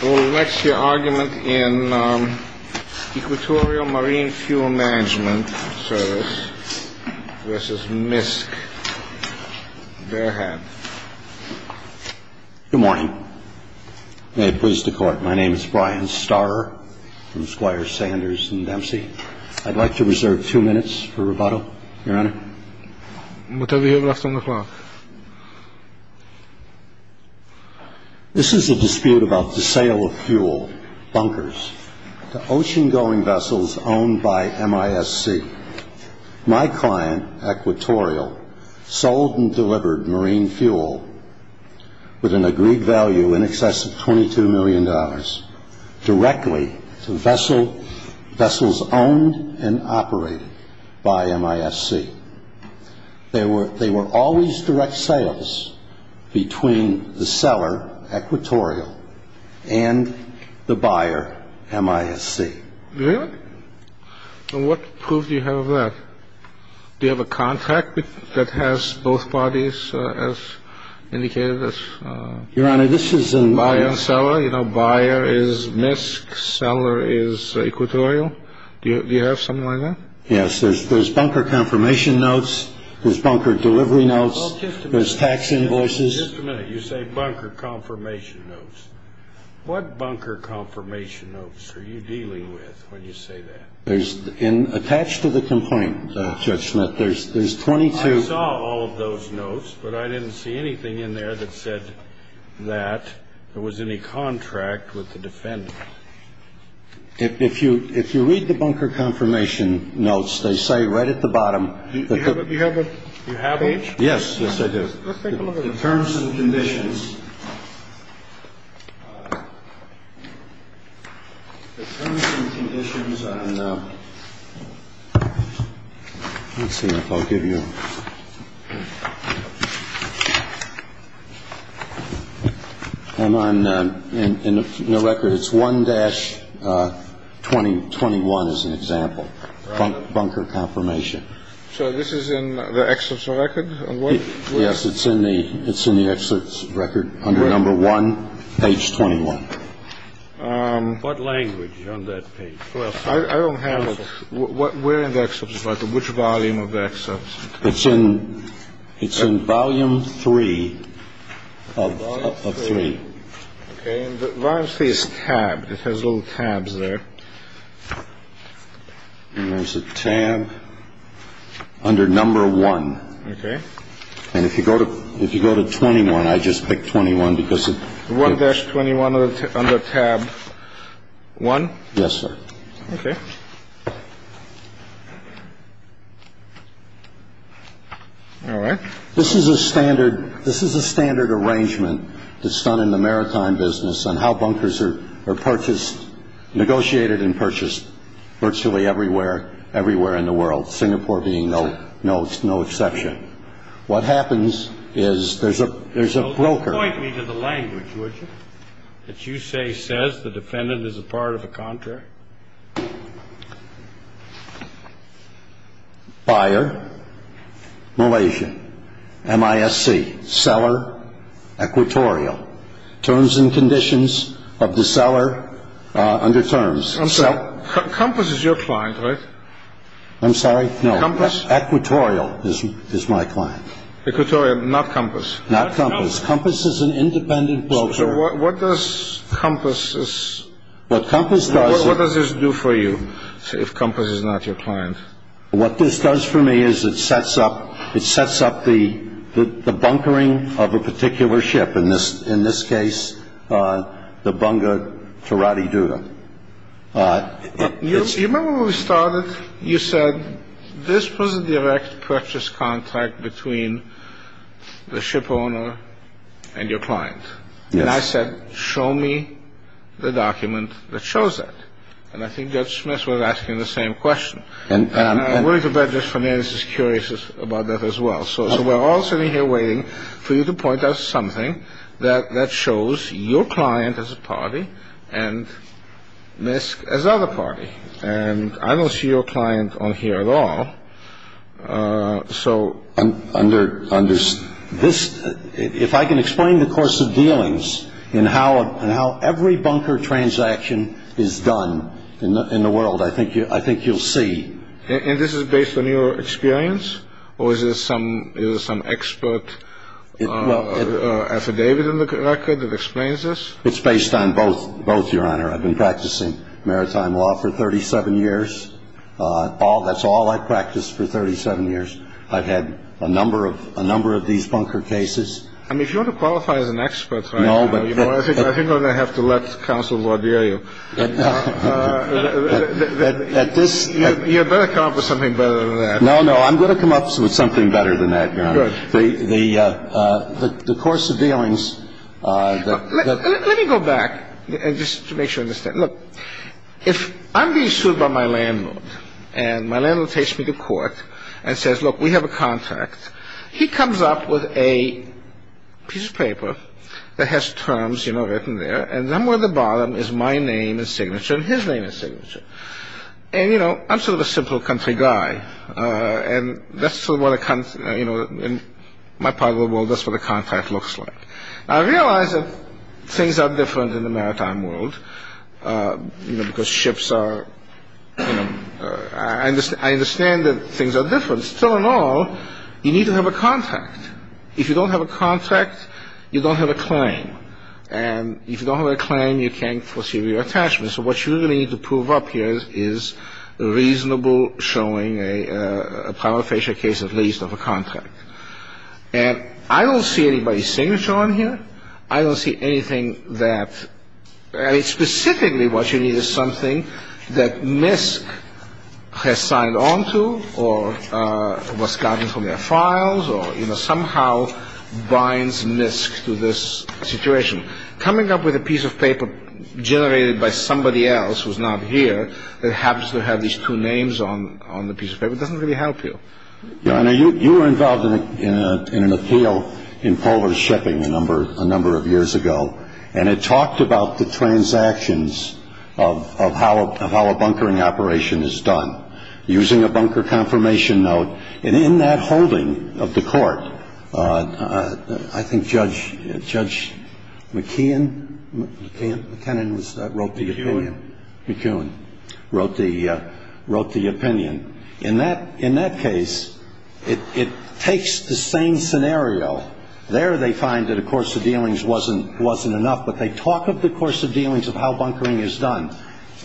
Good morning. May it please the Court, my name is Brian Starrer from Squire Sanders & Dempsey. I'd like to reserve two minutes for rebuttal, Your Honor. Whatever you have left on the floor. They were always direct sales between the seller, Equatorial, and the buyer, MISC. Really? And what proof do you have of that? Do you have a contract that has both parties as indicated as buyer and seller? You know, buyer is MISC, seller is Equatorial. Do you have something like that? Yes, there's bunker confirmation notes, there's bunker delivery notes, there's tax invoices. Just a minute, you say bunker confirmation notes. What bunker confirmation notes are you dealing with when you say that? There's, attached to the complaint, Judge Smith, there's 22 I saw all of those notes, but I didn't see anything in there that said that there was any contract with the defendant. If you read the bunker confirmation notes, they say right at the bottom You have H? Yes, yes I do. Let's take a look at them. Let's see if I'll give you them on the record. It's 1-2021 as an example. Bunker confirmation. So this is in the Excellence Record? Yes, it's in the Excellence Record under number 1, page 21. What language on that page? I don't have it. Where in the Excellence Record? Which volume of the Excellence? It's in volume 3 of 3. Volume 3 is tabbed. It has little tabs there. And there's a tab under number 1. Okay. And if you go to 21, I just picked 21 because it 1-21 under tab 1? Yes, sir. Okay. All right. This is a standard arrangement that's done in the maritime business on how bunkers are purchased, negotiated and purchased virtually everywhere in the world, Singapore being no exception. What happens is there's a broker. Point me to the language, would you, that you say says the defendant is a part of a contract? Buyer, Malaysia, MISC, seller, Equatorial. Terms and conditions of the seller under terms. Compass is your client, right? I'm sorry? No. Equatorial is my client. Equatorial, not Compass. Not Compass. Compass is an independent broker. What does Compass do for you if Compass is not your client? What this does for me is it sets up the bunkering of a particular ship. In this case, the Bunga Teratiduta. You remember when we started, you said this was a direct purchase contract between the ship owner and your client. And I said, show me the document that shows that. And I think Judge Smith was asking the same question. And I'm willing to bet Judge Fernandez is curious about that as well. So we're all sitting here waiting for you to point us something that shows your client as a party and MISC as the other party. And I don't see your client on here at all. So under this, if I can explain the course of dealings and how every Bunga transaction is done in the world, I think you'll see. And this is based on your experience? Or is this some expert affidavit in the record that explains this? It's based on both, Your Honor. I've been practicing maritime law for 37 years. That's all I've practiced for 37 years. I've had a number of these Bunga cases. I mean, if you want to qualify as an expert, I think I'm going to have to let Counsel Lord hear you. You'd better come up with something better than that. No, no. I'm going to come up with something better than that, Your Honor. The course of dealings. Let me go back just to make sure I understand. Look, if I'm being sued by my landlord and my landlord takes me to court and says, look, we have a contract, he comes up with a piece of paper that has terms, you know, written there. And somewhere at the bottom is my name and signature and his name and signature. And, you know, I'm sort of a simple country guy. And that's sort of what a country, you know, in my part of the world, that's what a contract looks like. I realize that things are different in the maritime world, you know, because ships are, you know, I understand that things are different. Still and all, you need to have a contract. If you don't have a contract, you don't have a claim. And if you don't have a claim, you can't foresee reattachment. So what you really need to prove up here is reasonable showing a prima facie case, at least, of a contract. And I don't see anybody's signature on here. I don't see anything that, I mean, specifically what you need is something that MISC has signed on to or was gotten from their files or somehow binds MISC to this situation. Coming up with a piece of paper generated by somebody else who's not here that happens to have these two names on the piece of paper doesn't really help you. You were involved in an appeal in polar shipping a number of years ago. And it talked about the transactions of how a bunkering operation is done. Using a bunker confirmation note. And in that holding of the court, I think Judge McKeon, McKinnon wrote the opinion. McKeon wrote the opinion. In that case, it takes the same scenario. There they find that a course of dealings wasn't enough, but they talk of the course of dealings of how bunkering is done.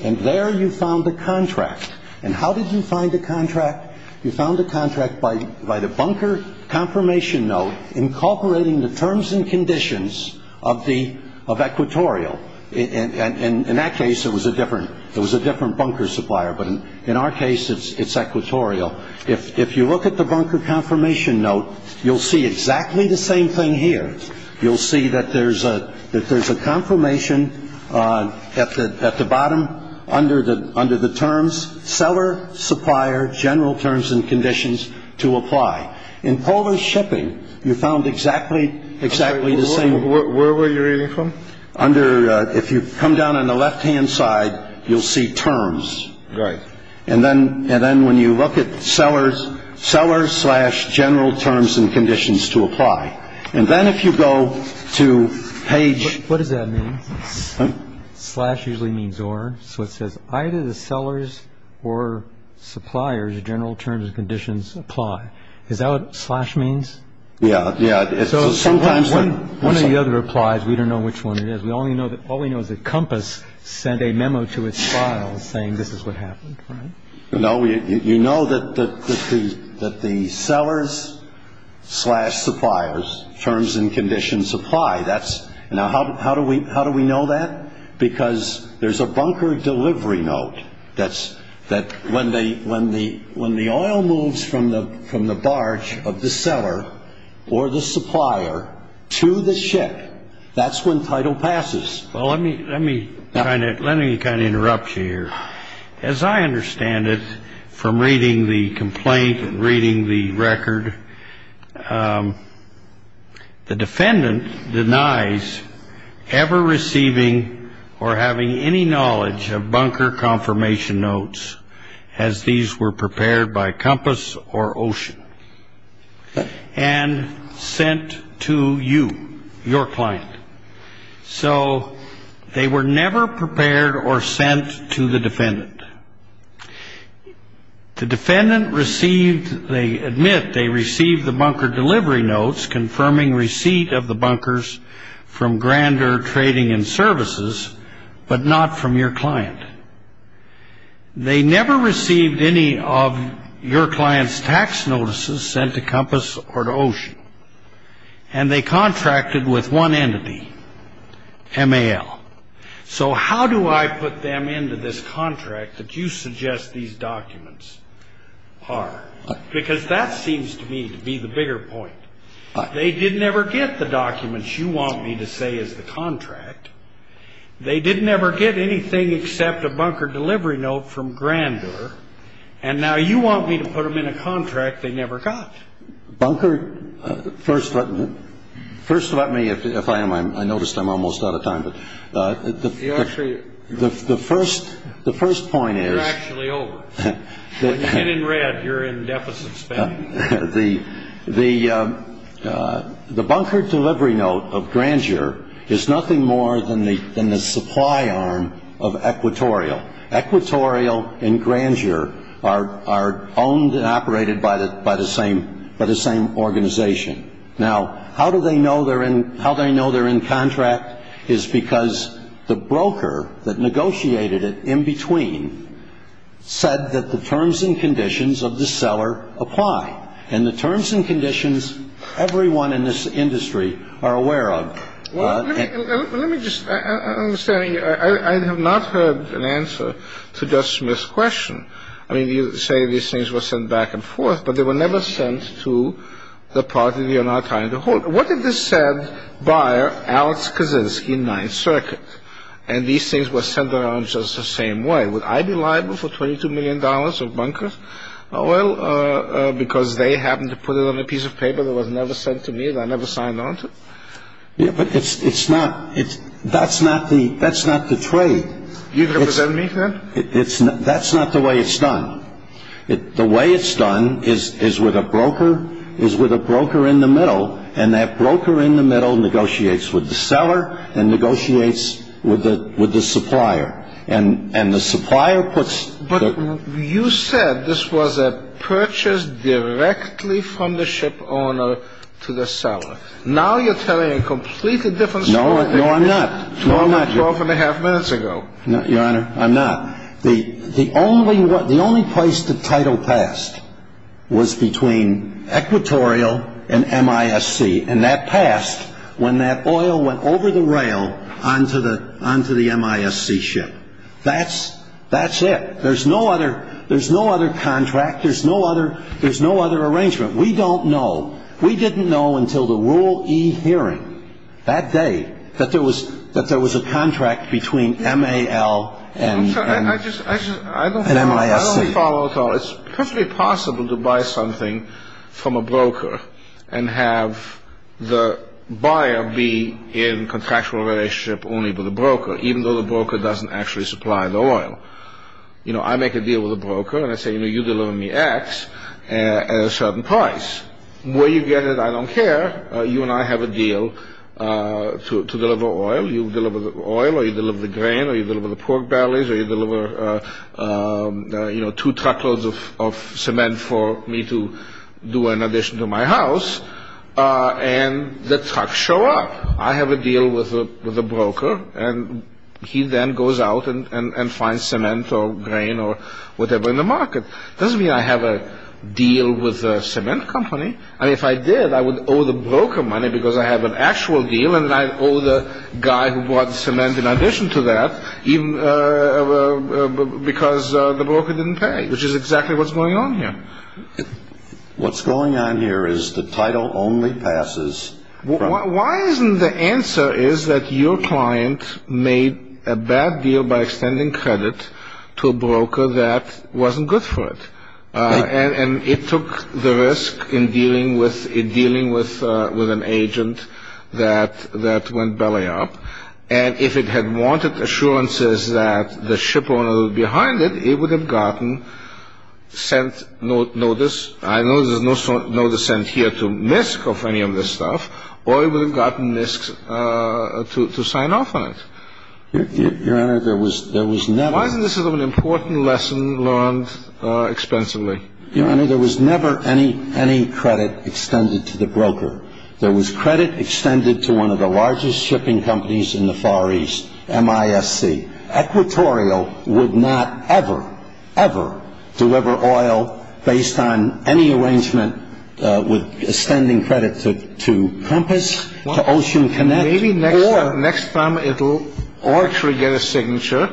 And there you found the contract. And how did you find the contract? You found the contract by the bunker confirmation note incorporating the terms and conditions of equatorial. And in that case, it was a different bunker supplier. But in our case, it's equatorial. If you look at the bunker confirmation note, you'll see exactly the same thing here. You'll see that there's a that there's a confirmation at the bottom under the under the terms. Seller supplier general terms and conditions to apply in polar shipping. You found exactly exactly the same. Where were you really from under? If you come down on the left hand side, you'll see terms. Right. And then and then when you look at sellers, sellers slash general terms and conditions to apply. And then if you go to page. What does that mean? Slash usually means or. So it says either the sellers or suppliers general terms and conditions apply. Is that what slash means? Yeah. Yeah. So sometimes when one of the other applies, we don't know which one it is. We only know that all we know is that compass sent a memo to its file saying this is what happened. You know that the that the sellers slash suppliers terms and conditions apply. That's now how how do we how do we know that? Because there's a bunker delivery note. That's that when they when the when the oil moves from the from the barge of the seller or the supplier to the ship. That's when title passes. Well, let me let me kind of let me kind of interrupt here. As I understand it, from reading the complaint and reading the record, the defendant denies ever receiving or having any knowledge of bunker confirmation notes as these were prepared by compass or ocean. And sent to you, your client. So they were never prepared or sent to the defendant. The defendant received. They admit they received the bunker delivery notes confirming receipt of the bunkers from grander trading and services, but not from your client. They never received any of your client's tax notices sent to compass or to ocean. And they contracted with one entity, M.A.L. So how do I put them into this contract that you suggest these documents are? Because that seems to me to be the bigger point. They didn't ever get the documents you want me to say is the contract. They didn't ever get anything except a bunker delivery note from grander. And now you want me to put them in a contract they never got. Bunker, first let me, if I am, I noticed I'm almost out of time. The first point is. You're actually over. When you get in red, you're in deficit spending. The bunker delivery note of grander is nothing more than the supply arm of equatorial. Equatorial and grander are owned and operated by the same organization. Now, how do they know they're in contract is because the broker that negotiated it in between said that the terms and conditions of the seller apply. And the terms and conditions everyone in this industry are aware of. Well, let me just say I have not heard an answer to this question. I mean, you say these things were sent back and forth, but they were never sent to the party. You're not trying to hold. What if this said buyer, Alex Kaczynski, Ninth Circuit, and these things were sent around just the same way. Would I be liable for twenty two million dollars of bunker? Well, because they happen to put it on a piece of paper that was never sent to me. I never signed on to it. But it's not it. That's not the that's not the trade. You represent me. That's not the way it's done. The way it's done is is with a broker is with a broker in the middle. And that broker in the middle negotiates with the seller and negotiates with the with the supplier. And and the supplier puts. But you said this was a purchase directly from the ship owner to the seller. Now you're telling a completely different. No, no, I'm not. No, I'm not. Twelve and a half minutes ago. Your Honor, I'm not. The the only the only place the title passed was between Equatorial and M.I.S.C. And that passed when that oil went over the rail onto the onto the M.I.S.C. ship. That's that's it. There's no other. There's no other contract. There's no other. There's no other arrangement. We don't know. We didn't know until the rule E hearing that day that there was that there was a contract between M.A.L. and M.I.S.C. It's possible to buy something from a broker and have the buyer be in contractual relationship only with the broker, even though the broker doesn't actually supply the oil. You know, I make a deal with a broker and I say, you know, you deliver me X at a certain price where you get it. I don't care. You and I have a deal to deliver oil. You deliver the oil or you deliver the grain or you deliver the pork bellies or you deliver, you know, two truckloads of cement for me to do in addition to my house. And the trucks show up. I have a deal with a broker and he then goes out and finds cement or grain or whatever in the market. Doesn't mean I have a deal with a cement company. I mean, if I did, I would owe the broker money because I have an actual deal. And I owe the guy who bought the cement in addition to that even because the broker didn't pay, which is exactly what's going on here. What's going on here is the title only passes. Why isn't the answer is that your client made a bad deal by extending credit to a broker that wasn't good for it. And it took the risk in dealing with a dealing with with an agent that that went belly up. And if it had wanted assurances that the ship owner behind it, it would have gotten sent notice. I know there's no sort of notice sent here to misc of any of this stuff or even gotten misc to sign off on it. Your Honor, there was there was never. This is an important lesson learned expensively. There was never any any credit extended to the broker. There was credit extended to one of the largest shipping companies in the Far East. M.I.S.C. Equatorial would not ever, ever deliver oil based on any arrangement with extending credit to to Compass Ocean. And maybe next time it'll actually get a signature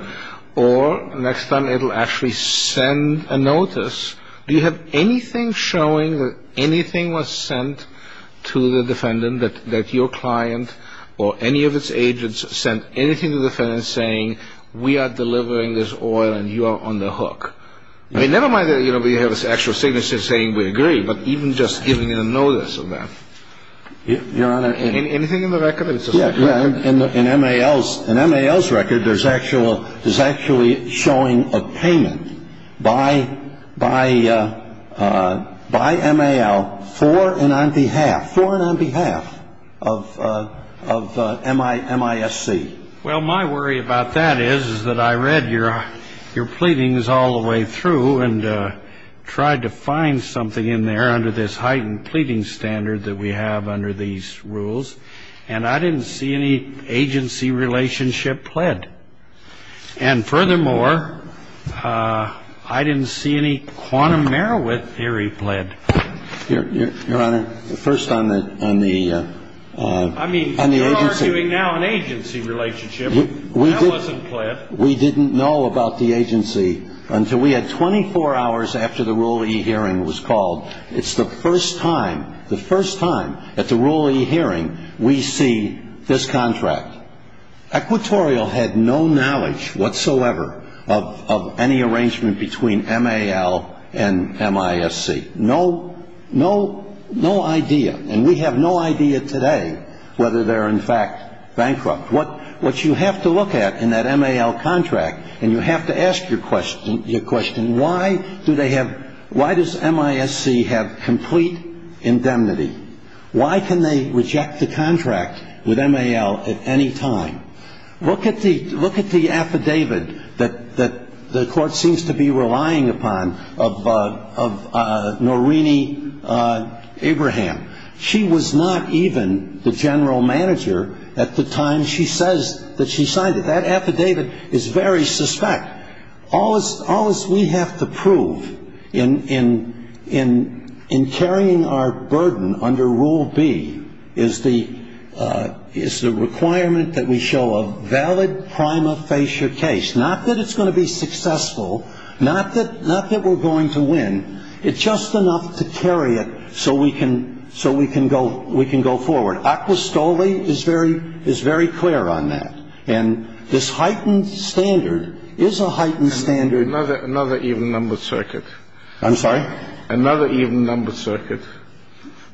or next time it'll actually send a notice. Do you have anything showing that anything was sent to the defendant that that your client or any of its agents sent anything to defend and saying we are delivering this oil and you are on the hook? I mean, never mind that. You know, we have this actual signature saying we agree, but even just giving a notice of that. Your Honor. Anything in the record? Yeah. And in M.A.L.'s and M.A.L.'s record, there's actual there's actually showing a payment by by by M.A.L. for and on behalf for and on behalf of of M.I. M.I.S.C. Well, my worry about that is that I read your your pleadings all the way through and tried to find something in there under this heightened pleading standard that we have under these rules. And I didn't see any agency relationship pled. And furthermore, I didn't see any quantum Merowith theory pled. Your Honor. First on the on the. I mean, you're arguing now an agency relationship. That wasn't pled. We didn't know about the agency until we had 24 hours after the ruling hearing was called. It's the first time the first time at the ruling hearing we see this contract. Equatorial had no knowledge whatsoever of any arrangement between M.A.L. and M.I.S.C. No, no, no idea. And we have no idea today whether they're in fact bankrupt. What what you have to look at in that M.A.L. contract. And you have to ask your question. Your question. Why do they have. Why does M.I.S.C. have complete indemnity. Why can they reject the contract with M.A.L. at any time. Look at the look at the affidavit that the court seems to be relying upon of of Noreen Abraham. She was not even the general manager at the time. She says that she signed it. That affidavit is very suspect. All is all is we have to prove in in in in carrying our burden under rule B is the is the requirement that we show a valid prima facie case. Not that it's going to be successful. Not that not that we're going to win. It's just enough to carry it. So we can so we can go we can go forward. Aqua Stoly is very is very clear on that. And this heightened standard is a heightened standard. Another another even numbered circuit. I'm sorry. Another even numbered circuit.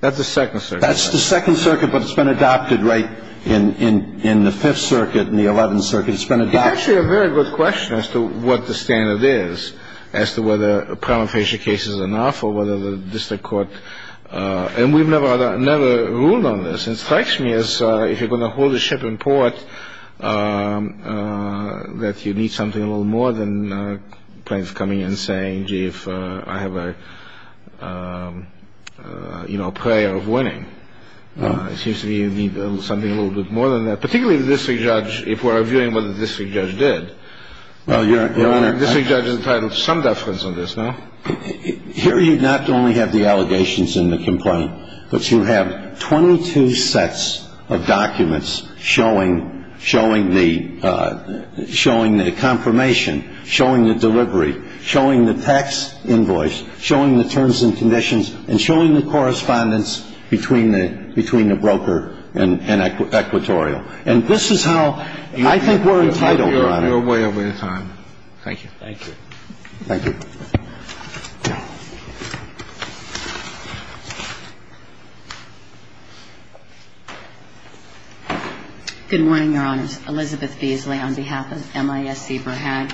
That's the second. That's the second circuit. But it's been adopted right in in in the fifth circuit in the 11th circuit. It's actually a very good question as to what the standard is as to whether a prima facie case is enough or whether the district court. And we've never never ruled on this. It strikes me as if you're going to hold a ship in port that you need something a little more than planes coming in saying, gee, if I have a, you know, prayer of winning. It seems to me you need something a little bit more than that. Particularly this judge. If we're viewing what the district judge did. Well, you're a district judge entitled to some deference on this. Here you not only have the allegations in the complaint, but you have 22 sets of documents showing showing the showing the confirmation, showing the delivery, showing the tax invoice, showing the terms and conditions and showing the correspondence between the between the broker and Equatorial. And this is how I think we're entitled, Your Honor. You're way over your time. Thank you. Thank you. Thank you. Good morning, Your Honors. Elizabeth Beasley on behalf of MIS-CBRA-HAG.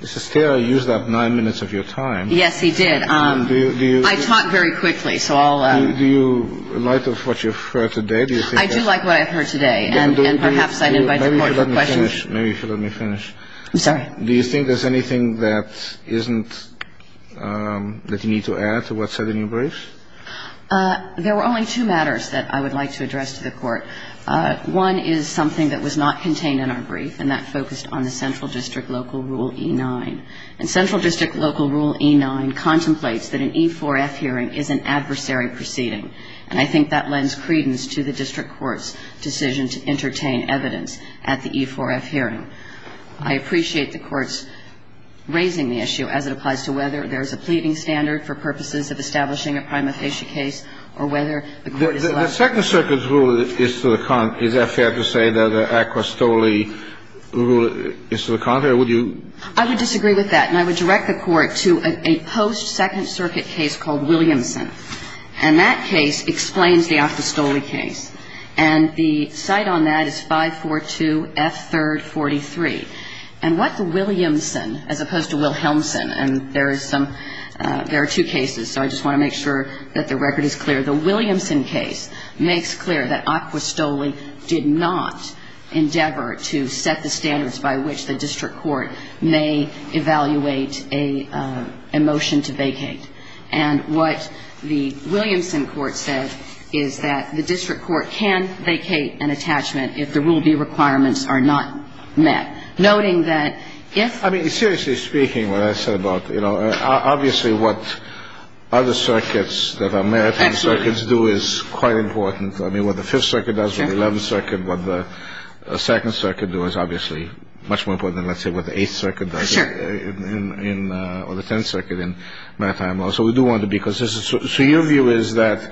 Ms. Estera used up nine minutes of your time. Yes, he did. I talk very quickly, so I'll. Do you like what you've heard today? I do like what I've heard today. And perhaps I'd invite the Court for questions. Maybe you should let me finish. I'm sorry. Do you think there's anything that isn't that you need to add to what's said in your brief? There were only two matters that I would like to address to the Court. One is something that was not contained in our brief, and that focused on the Central District Local Rule E-9. And Central District Local Rule E-9 contemplates that an E-4F hearing is an adversary proceeding. And I think that lends credence to the district court's decision to entertain evidence at the E-4F hearing. I appreciate the Court's raising the issue as it applies to whether there's a pleading standard for purposes of establishing a prima facie case or whether the Court is allowed to. The second circuit's rule is to the contrary. Is that fair to say that the Acquistole rule is to the contrary, or would you? I would disagree with that. And I would direct the Court to a post-second circuit case called Williamson. And that case explains the Acquistole case. And the cite on that is 542F3rd43. And what the Williamson, as opposed to Wilhelmson, and there is some – there are two cases, so I just want to make sure that the record is clear. The Williamson case makes clear that Acquistole did not endeavor to set the standards by which the district court may evaluate a motion to vacate. And what the Williamson court said is that the district court can vacate an attachment if the Rule B requirements are not met, noting that if – I mean, seriously speaking, what I said about, you know, obviously what other circuits that are maritime circuits do is quite important. I mean, what the 5th Circuit does, what the 11th Circuit, what the 2nd Circuit do is obviously much more important than, let's say, what the 8th Circuit does. Sure. Or the 10th Circuit in maritime Law. So we do want to be consistent. So your view is that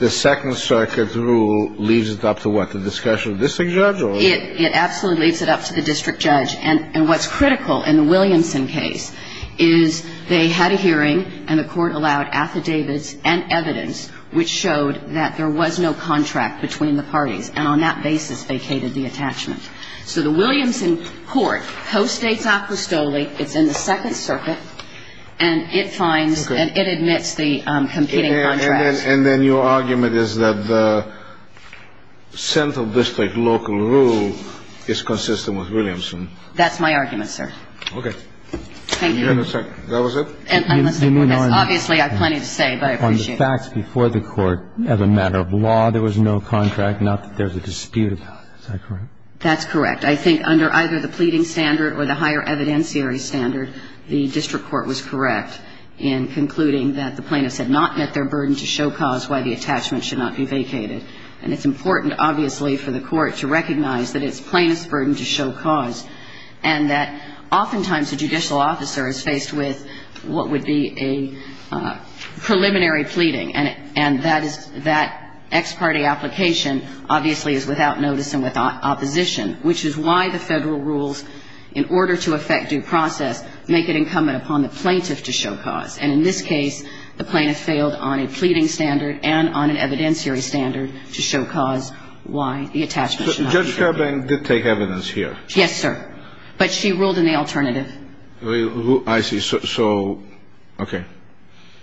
the second circuit rule leaves it up to what? The discussion of the district judge? It absolutely leaves it up to the district judge. And what's critical in the Williamson case is they had a hearing and the court allowed affidavits and evidence which showed that there was no contract between the parties. And on that basis vacated the attachment. So the Williamson court postdates Acquistole. It's in the 2nd Circuit. And it finds and it admits the competing contracts. And then your argument is that the central district local rule is consistent with Williamson. That's my argument, sir. Okay. Thank you. That was it? Obviously I have plenty to say, but I appreciate it. On the facts before the court, as a matter of law, there was no contract, not that there's a dispute about it. Is that correct? That's correct. I think under either the pleading standard or the higher evidentiary standard, the district court was correct in concluding that the plaintiffs had not met their burden to show cause why the attachment should not be vacated. And it's important, obviously, for the court to recognize that it's plaintiffs' burden to show cause and that oftentimes a judicial officer is faced with what would be a preliminary pleading. And that is that ex parte application obviously is without notice and without opposition, which is why the Federal rules, in order to affect due process, make it incumbent upon the plaintiff to show cause. And in this case, the plaintiff failed on a pleading standard and on an evidentiary standard to show cause why the attachment should not be vacated. Judge Fairbank did take evidence here. Yes, sir. But she ruled in the alternative. I see. So, okay.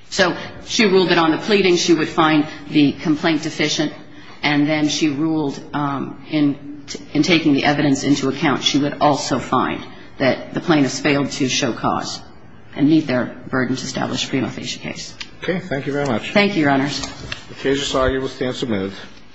So she ruled that on the pleading, she would find the complaint deficient. And then she ruled in taking the evidence into account, she would also find that the plaintiffs failed to show cause and meet their burden to establish a pre-malfection case. Okay. Thank you very much. Thank you, Your Honors. The case is argued with stance submitted.